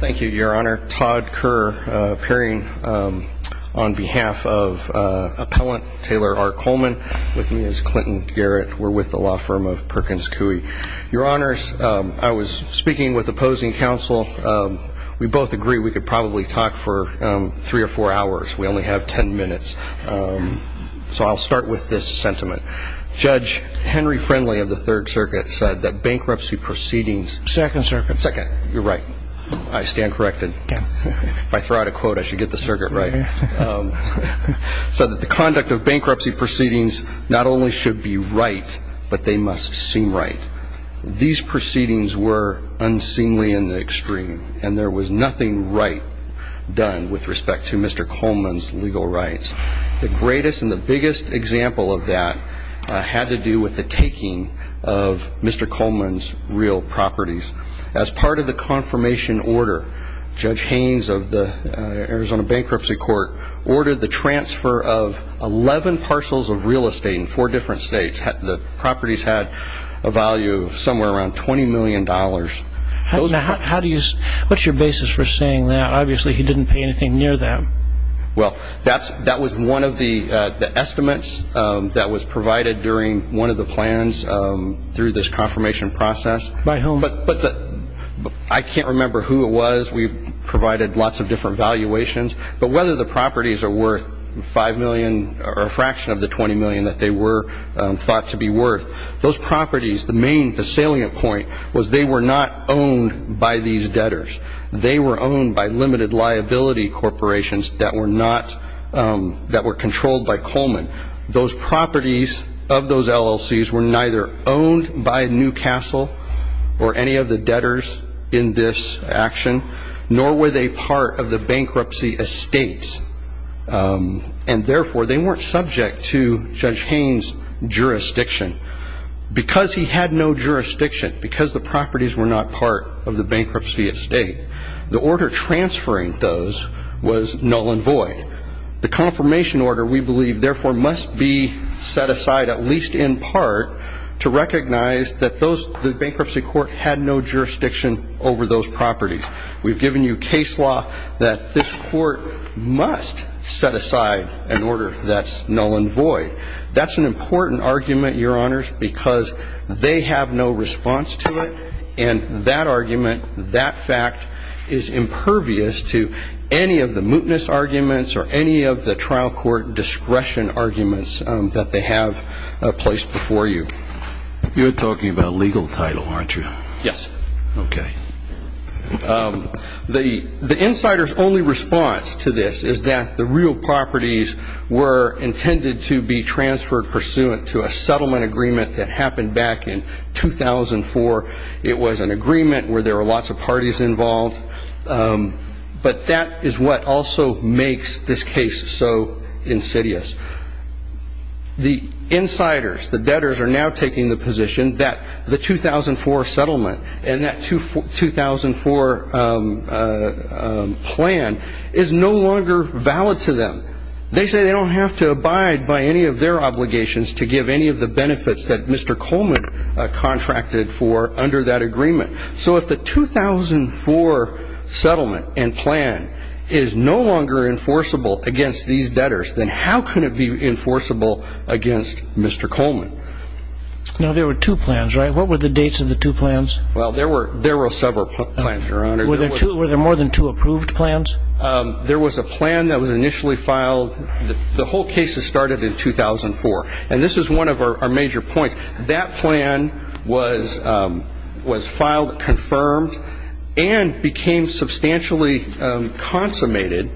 Thank you, your honor. Todd Kerr, appearing on behalf of appellant Taylor R. Coleman. With me is Clinton Garrett. We're with the law firm of Perkins Coie. Your honors, I was speaking with opposing counsel. We both agree we could probably talk for three or four hours. We only have ten minutes. So I'll start with this sentiment. Judge Henry Friendly of the Third Circuit said that bankruptcy proceedings... I stand corrected. If I throw out a quote, I should get the circuit right. Said that the conduct of bankruptcy proceedings not only should be right, but they must seem right. These proceedings were unseemly in the extreme, and there was nothing right done with respect to Mr. Coleman's legal rights. The greatest and the biggest example of that had to do with the taking of Mr. Coleman's real properties. As part of the confirmation order, Judge Haynes of the Arizona Bankruptcy Court ordered the transfer of 11 parcels of real estate in four different states. The properties had a value of somewhere around $20 million. What's your basis for saying that? Obviously he didn't pay anything near that. Well, that was one of the estimates that was provided during one of the plans through this confirmation process. By whom? I can't remember who it was. We provided lots of different valuations. But whether the properties are worth $5 million or a fraction of the $20 million that they were thought to be worth, those properties, the salient point was they were not owned by these debtors. They were owned by limited liability corporations that were controlled by Coleman. Those properties of those LLCs were neither owned by Newcastle or any of the debtors in this action, nor were they part of the bankruptcy estates. And therefore, they weren't subject to Judge Haynes' jurisdiction. Because he had no jurisdiction, because the properties were not part of the bankruptcy estate, the order transferring those was null and void. The confirmation order, we believe, therefore must be set aside at least in part to recognize that the bankruptcy court had no jurisdiction over those properties. We've given you case law that this court must set aside an order that's null and void. That's an important argument, Your Honors, because they have no response to it. And that argument, that fact is impervious to any of the mootness arguments or any of the trial court discretion arguments that they have placed before you. You're talking about legal title, aren't you? Yes. Okay. The insider's only response to this is that the real properties were intended to be transferred pursuant to a settlement agreement that happened back in 2004. It was an agreement where there were lots of parties involved. But that is what also makes this case so insidious. The insiders, the debtors, are now taking the position that the 2004 settlement and that 2004 plan is no longer valid to them. They say they don't have to abide by any of their obligations to give any of the benefits that Mr. Coleman contracted for under that agreement. So if the 2004 settlement and plan is no longer enforceable against these debtors, then how can it be enforceable against Mr. Coleman? Now, there were two plans, right? What were the dates of the two plans? Well, there were several plans, Your Honor. Were there more than two approved plans? There was a plan that was initially filed. The whole case started in 2004. And this is one of our major points. That plan was filed, confirmed, and became substantially consummated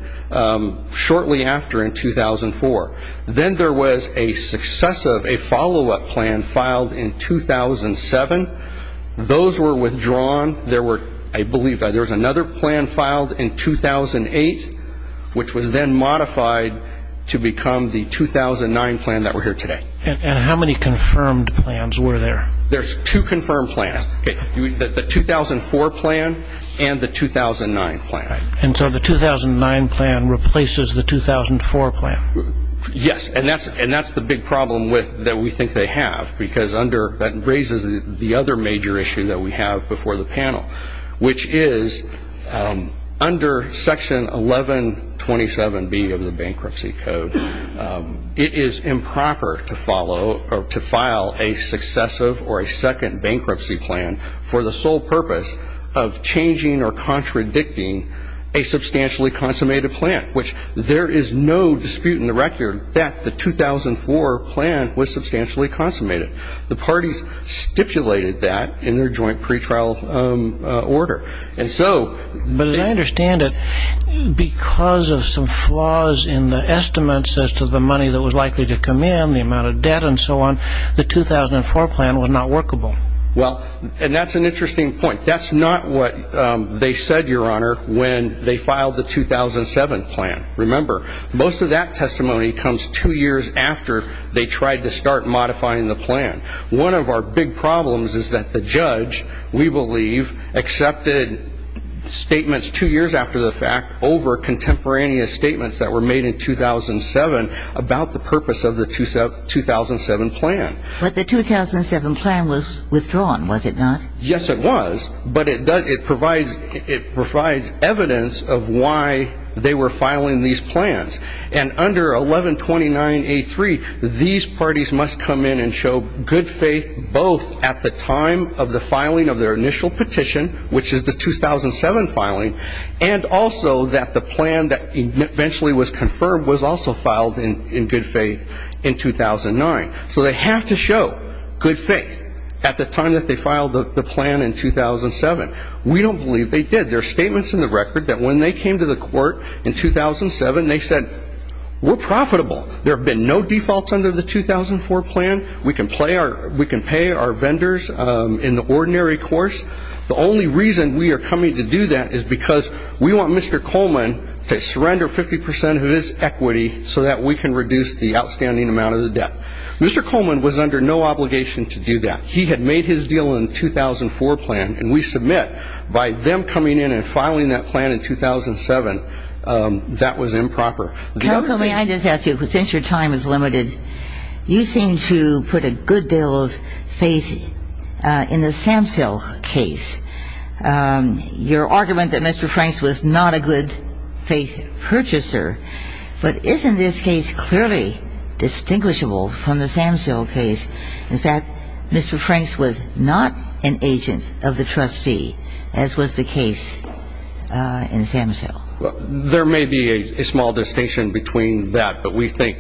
shortly after in 2004. Then there was a successive, a follow-up plan filed in 2007. Those were withdrawn. There were, I believe, there was another plan filed in 2008, which was then modified to become the 2009 plan that we're here today. And how many confirmed plans were there? There's two confirmed plans. The 2004 plan and the 2009 plan. And so the 2009 plan replaces the 2004 plan? Yes. And that's the big problem that we think they have, because that raises the other major issue that we have before the panel, which is under Section 1127B of the Bankruptcy Code, it is improper to file a successive or a second bankruptcy plan for the sole purpose of changing or contradicting a substantially consummated plan, which there is no dispute in the record that the 2004 plan was substantially consummated. The parties stipulated that in their joint pretrial order. But as I understand it, because of some flaws in the estimates as to the money that was likely to come in, the amount of debt and so on, the 2004 plan was not workable. Well, and that's an interesting point. That's not what they said, Your Honor, when they filed the 2007 plan. Remember, most of that testimony comes two years after they tried to start modifying the plan. One of our big problems is that the judge, we believe, accepted statements two years after the fact over contemporaneous statements that were made in 2007 about the purpose of the 2007 plan. But the 2007 plan was withdrawn, was it not? Yes, it was. But it provides evidence of why they were filing these plans. And under 1129A3, these parties must come in and show good faith both at the time of the filing of their initial petition, which is the 2007 filing, and also that the plan that eventually was confirmed was also filed in good faith in 2009. So they have to show good faith at the time that they filed the plan in 2007. We don't believe they did. There are statements in the record that when they came to the court in 2007, they said, we're profitable. There have been no defaults under the 2004 plan. We can pay our vendors in the ordinary course. The only reason we are coming to do that is because we want Mr. Coleman to surrender 50% of his equity so that we can reduce the outstanding amount of the debt. Mr. Coleman was under no obligation to do that. He had made his deal in the 2004 plan, and we submit by them coming in and filing that plan in 2007 that was improper. Counsel, may I just ask you, since your time is limited, you seem to put a good deal of faith in the Samsell case. Your argument that Mr. Franks was not a good faith purchaser, but isn't this case clearly distinguishable from the Samsell case? In fact, Mr. Franks was not an agent of the trustee, as was the case in Samsell. There may be a small distinction between that, but we think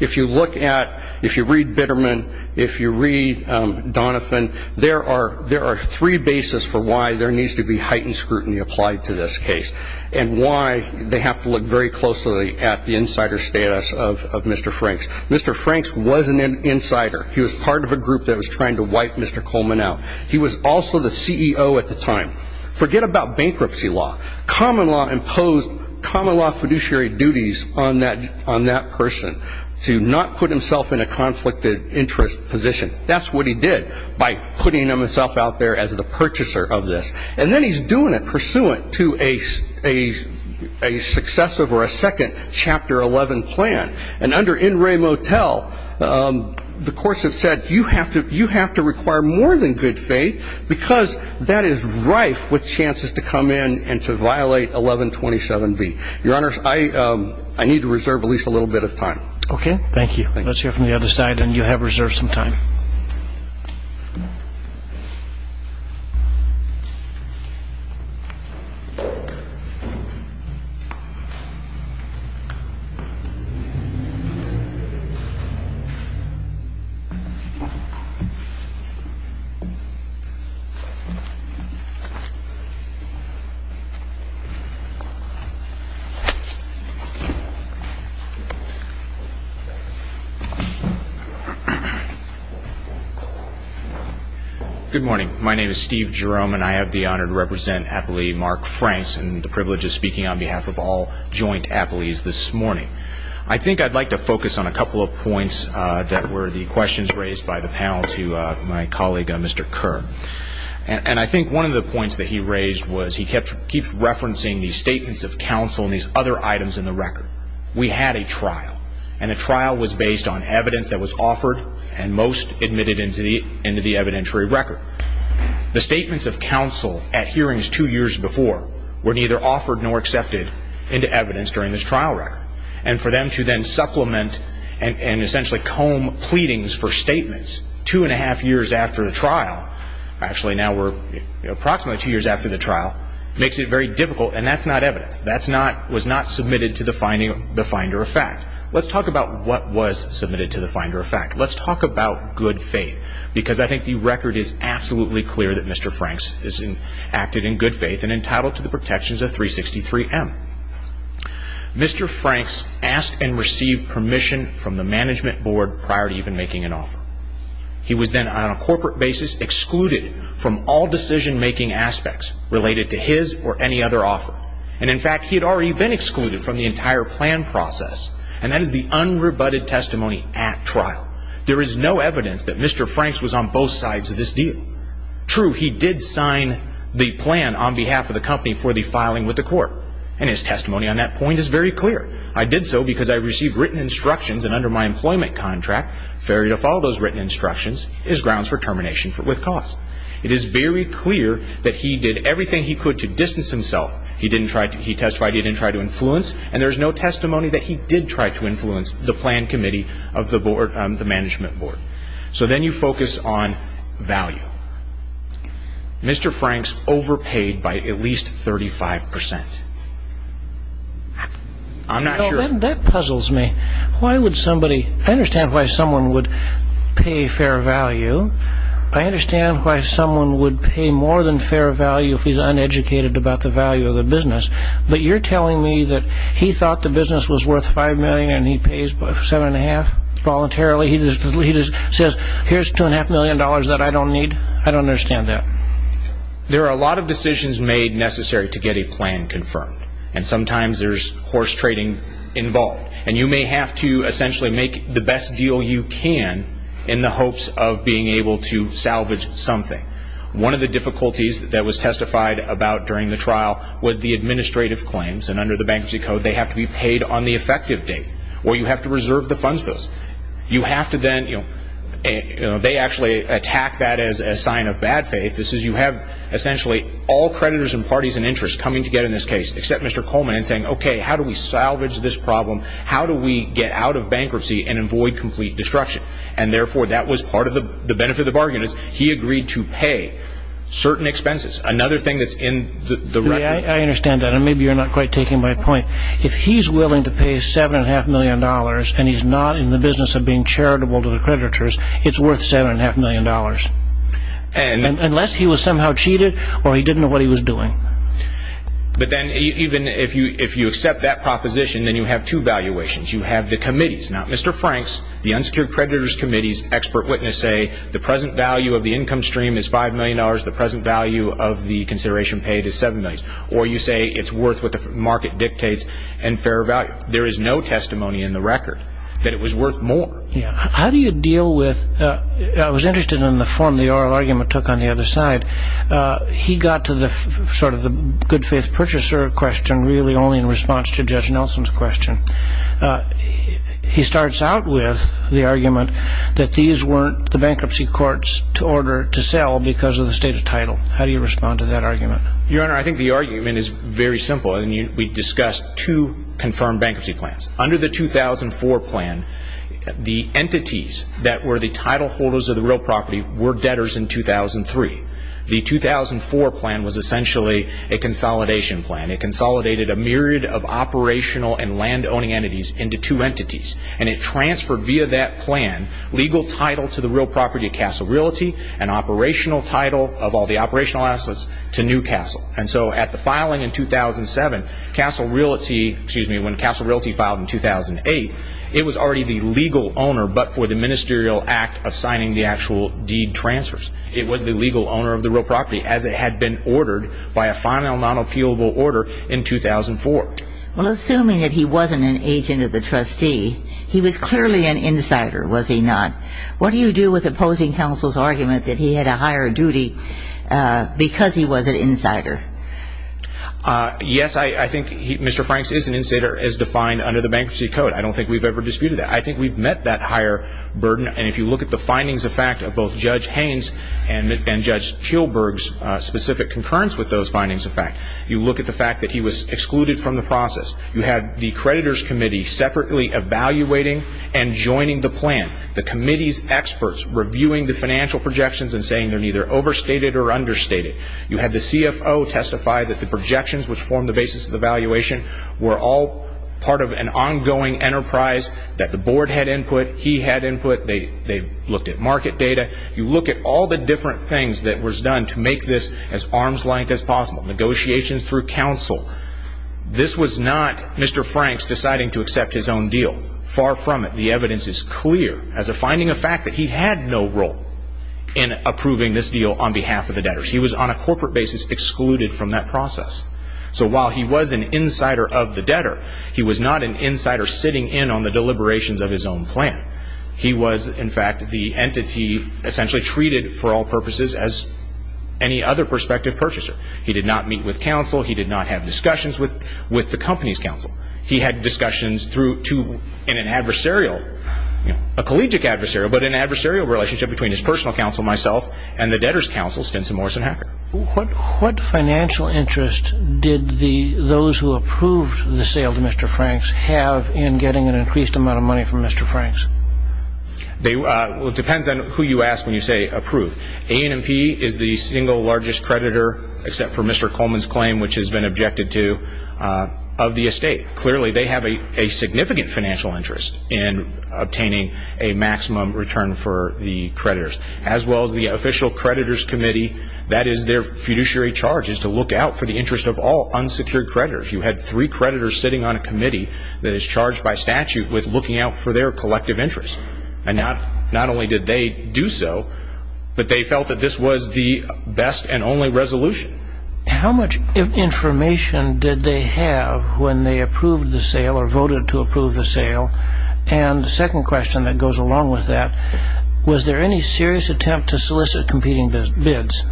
if you look at, if you read Bitterman, if you read Donovan, there are three bases for why there needs to be heightened scrutiny applied to this case and why they have to look very closely at the insider status of Mr. Franks. Mr. Franks wasn't an insider. He was part of a group that was trying to wipe Mr. Coleman out. He was also the CEO at the time. Forget about bankruptcy law. Common law imposed common law fiduciary duties on that person to not put himself in a conflicted interest position. That's what he did by putting himself out there as the purchaser of this. And then he's doing it pursuant to a successive or a second Chapter 11 plan. And under In Re Motel, the course has said you have to require more than good faith because that is rife with chances to come in and to violate 1127B. Your Honor, I need to reserve at least a little bit of time. Okay, thank you. Let's hear from the other side, and you have reserved some time. Good morning. My name is Steve Jerome, and I have the honor to represent appellee Mark Franks, and the privilege of speaking on behalf of all joint appellees this morning. I think I'd like to focus on a couple of points that were the questions raised by the panel to my colleague, Mr. Kerr. And I think one of the points that he raised was he keeps referencing the statements of counsel and these other items in the record. We had a trial, and the trial was based on evidence that was offered and most admitted into the evidentiary record. The statements of counsel at hearings two years before were neither offered nor accepted into evidence during this trial record. And for them to then supplement and essentially comb pleadings for statements two and a half years after the trial, actually now we're approximately two years after the trial, makes it very difficult, and that's not evidence. That was not submitted to the finder of fact. Let's talk about what was submitted to the finder of fact. Let's talk about good faith, because I think the record is absolutely clear that Mr. Franks acted in good faith and entitled to the protections of 363M. Mr. Franks asked and received permission from the management board prior to even making an offer. He was then on a corporate basis excluded from all decision-making aspects related to his or any other offer. And, in fact, he had already been excluded from the entire plan process, and that is the unrebutted testimony at trial. There is no evidence that Mr. Franks was on both sides of this deal. True, he did sign the plan on behalf of the company for the filing with the court, and his testimony on that point is very clear. I did so because I received written instructions, and under my employment contract, fair to follow those written instructions, is grounds for termination with cause. It is very clear that he did everything he could to distance himself. He testified he didn't try to influence, and there is no testimony that he did try to influence the plan committee of the management board. So then you focus on value. Mr. Franks overpaid by at least 35%. I'm not sure. That puzzles me. I understand why someone would pay fair value. I understand why someone would pay more than fair value if he's uneducated about the value of the business. But you're telling me that he thought the business was worth $5 million, and he pays $7.5 voluntarily. He just says, here's $2.5 million that I don't need. I don't understand that. There are a lot of decisions made necessary to get a plan confirmed, and sometimes there's horse trading involved. And you may have to essentially make the best deal you can in the hopes of being able to salvage something. One of the difficulties that was testified about during the trial was the administrative claims, and under the Bankruptcy Code they have to be paid on the effective date, or you have to reserve the funds bills. You have to then, you know, they actually attack that as a sign of bad faith. This is you have essentially all creditors and parties in interest coming together in this case, except Mr. Coleman saying, okay, how do we salvage this problem? How do we get out of bankruptcy and avoid complete destruction? And therefore that was part of the benefit of the bargain, is he agreed to pay certain expenses. Another thing that's in the record. I understand that, and maybe you're not quite taking my point. If he's willing to pay $7.5 million, and he's not in the business of being charitable to the creditors, it's worth $7.5 million. Unless he was somehow cheated, or he didn't know what he was doing. But then even if you accept that proposition, then you have two valuations. You have the committees. Now, Mr. Franks, the unsecured creditors' committees, expert witness say, the present value of the income stream is $5 million, the present value of the consideration paid is $7 million. Or you say it's worth what the market dictates, and fair value. There is no testimony in the record that it was worth more. How do you deal with, I was interested in the form the oral argument took on the other side. He got to the sort of the good faith purchaser question really only in response to Judge Nelson's question. He starts out with the argument that these weren't the bankruptcy courts to sell because of the state of title. How do you respond to that argument? Your Honor, I think the argument is very simple. We discussed two confirmed bankruptcy plans. Under the 2004 plan, the entities that were the title holders of the real property were debtors in 2003. The 2004 plan was essentially a consolidation plan. It consolidated a myriad of operational and land-owning entities into two entities. And it transferred via that plan legal title to the real property of Castle Realty and operational title of all the operational assets to New Castle. And so at the filing in 2007, when Castle Realty filed in 2008, it was already the legal owner but for the ministerial act of signing the actual deed transfers. It was the legal owner of the real property as it had been ordered by a final non-appealable order in 2004. Well, assuming that he wasn't an agent of the trustee, he was clearly an insider, was he not? What do you do with opposing counsel's argument that he had a higher duty because he was an insider? Yes, I think Mr. Franks is an insider as defined under the bankruptcy code. I don't think we've ever disputed that. I think we've met that higher burden. And if you look at the findings of fact of both Judge Haynes and Judge Tilburg's specific concurrence with those findings of fact, you look at the fact that he was excluded from the process. You had the creditors committee separately evaluating and joining the plan. The committee's experts reviewing the financial projections and saying they're neither overstated or understated. You had the CFO testify that the projections which formed the basis of the valuation were all part of an ongoing enterprise that the board had input, he had input. They looked at market data. You look at all the different things that was done to make this as arm's length as possible. Negotiations through counsel. This was not Mr. Franks deciding to accept his own deal. Far from it. The evidence is clear as a finding of fact that he had no role in approving this deal on behalf of the debtors. He was on a corporate basis excluded from that process. So while he was an insider of the debtor, he was not an insider sitting in on the deliberations of his own plan. He was, in fact, the entity essentially treated for all purposes as any other prospective purchaser. He did not meet with counsel. He did not have discussions with the company's counsel. He had discussions in an adversarial, a collegiate adversarial, but an adversarial relationship between his personal counsel, myself, and the debtor's counsel, Stinson, Morse, and Hacker. What financial interest did those who approved the sale to Mr. Franks have in getting an increased amount of money from Mr. Franks? Well, it depends on who you ask when you say approved. A&P is the single largest creditor, except for Mr. Coleman's claim, which has been objected to, of the estate. Clearly, they have a significant financial interest in obtaining a maximum return for the creditors. As well as the official creditors committee, that is their fiduciary charge, is to look out for the interest of all unsecured creditors. You had three creditors sitting on a committee that is charged by statute with looking out for their collective interest. And not only did they do so, but they felt that this was the best and only resolution. How much information did they have when they approved the sale or voted to approve the sale? And the second question that goes along with that, was there any serious attempt to solicit competing bids?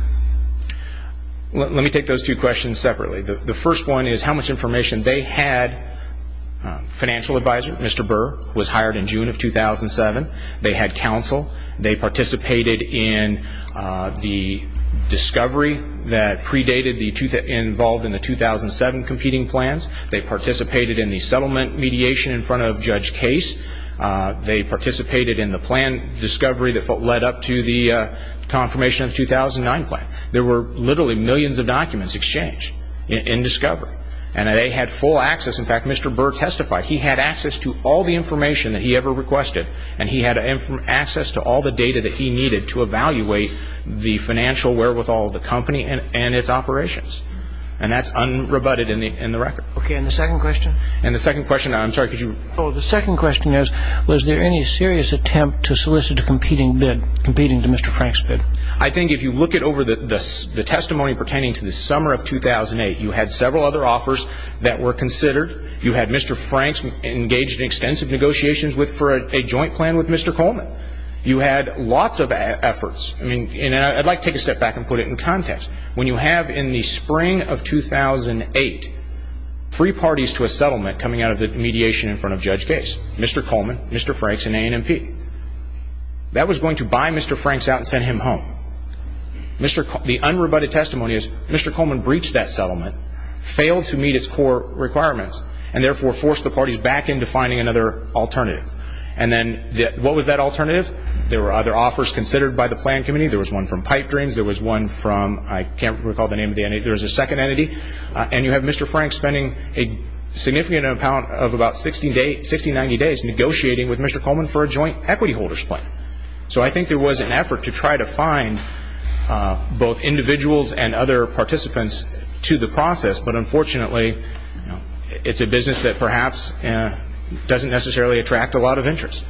Let me take those two questions separately. The first one is how much information they had. Financial advisor, Mr. Burr, was hired in June of 2007. They had counsel. They participated in the discovery that predated the 2007 competing plans. They participated in the settlement mediation in front of Judge Case. They participated in the plan discovery that led up to the confirmation of the 2009 plan. There were literally millions of documents exchanged in discovery. And they had full access. In fact, Mr. Burr testified he had access to all the information that he ever requested. And he had access to all the data that he needed to evaluate the financial wherewithal of the company and its operations. And that's unrebutted in the record. Okay. And the second question? And the second question, I'm sorry, could you? Oh, the second question is, was there any serious attempt to solicit a competing bid, competing to Mr. Frank's bid? I think if you look at over the testimony pertaining to the summer of 2008, you had several other offers that were considered. You had Mr. Frank engaged in extensive negotiations for a joint plan with Mr. Coleman. You had lots of efforts. And I'd like to take a step back and put it in context. When you have in the spring of 2008 three parties to a settlement coming out of the mediation in front of Judge Case, Mr. Coleman, Mr. Franks, and A&MP, that was going to buy Mr. Franks out and send him home. The unrebutted testimony is Mr. Coleman breached that settlement, failed to meet its core requirements, and therefore forced the parties back into finding another alternative. And then what was that alternative? There were other offers considered by the plan committee. There was one from Pipe Dreams. There was one from, I can't recall the name of the entity. There was a second entity. And you have Mr. Franks spending a significant amount of about 60, 90 days negotiating with Mr. Coleman for a joint equity holders plan. So I think there was an effort to try to find both individuals and other participants to the process, but unfortunately it's a business that perhaps doesn't necessarily attract a lot of interest.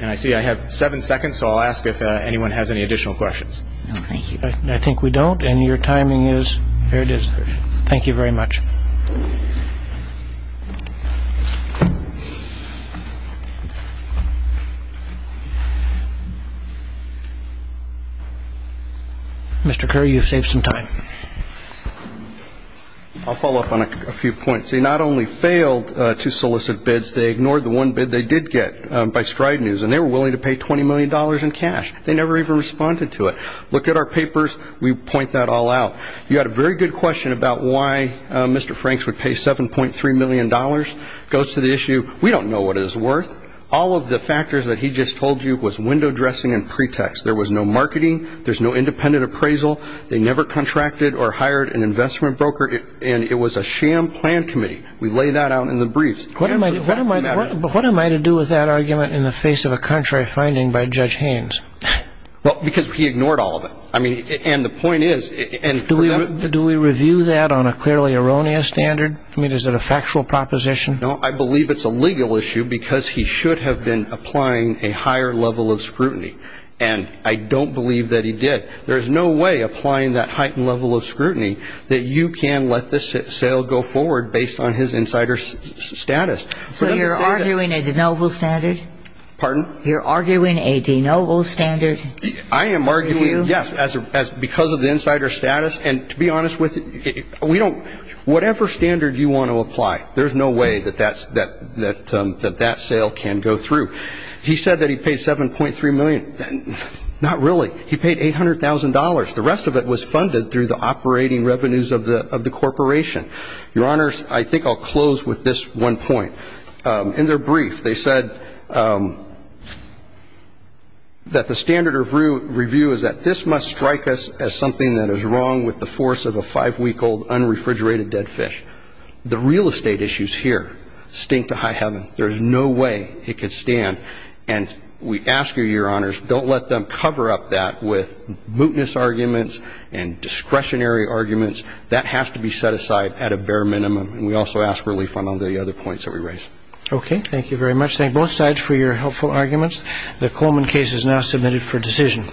And I see I have seven seconds, so I'll ask if anyone has any additional questions. No, thank you. I think we don't. And your timing is? There it is. Thank you very much. Mr. Curry, you've saved some time. I'll follow up on a few points. They not only failed to solicit bids, they ignored the one bid they did get by Stride News, and they were willing to pay $20 million in cash. They never even responded to it. Look at our papers. We point that all out. You had a very good question about why Mr. Franks would pay $7.3 million. It goes to the issue, we don't know what it is worth. All of the factors that he just told you was window dressing and pretext. There was no marketing. There's no independent appraisal. They never contracted or hired an investment broker, and it was a sham plan committee. We lay that out in the briefs. What am I to do with that argument in the face of a contrary finding by Judge Haynes? Well, because he ignored all of it. I mean, and the point is, and for that reason. Do we review that on a clearly erroneous standard? I mean, is it a factual proposition? No, I believe it's a legal issue because he should have been applying a higher level of scrutiny, and I don't believe that he did. There is no way, applying that heightened level of scrutiny, that you can let this sale go forward based on his insider status. So you're arguing a de novo standard? Pardon? You're arguing a de novo standard? I am arguing, yes, because of the insider status, and to be honest with you, whatever standard you want to apply, there's no way that that sale can go through. He said that he paid $7.3 million. Not really. He paid $800,000. The rest of it was funded through the operating revenues of the corporation. Your Honors, I think I'll close with this one point. In their brief, they said that the standard of review is that this must strike us as something that is wrong with the force of a five-week-old unrefrigerated dead fish. The real estate issues here stink to high heaven. There is no way it could stand, and we ask you, Your Honors, don't let them cover up that with mootness arguments and discretionary arguments. That has to be set aside at a bare minimum, and we also ask relief on all the other points that we raise. Okay. Thank you very much. Thank both sides for your helpful arguments. The Coleman case is now submitted for decision.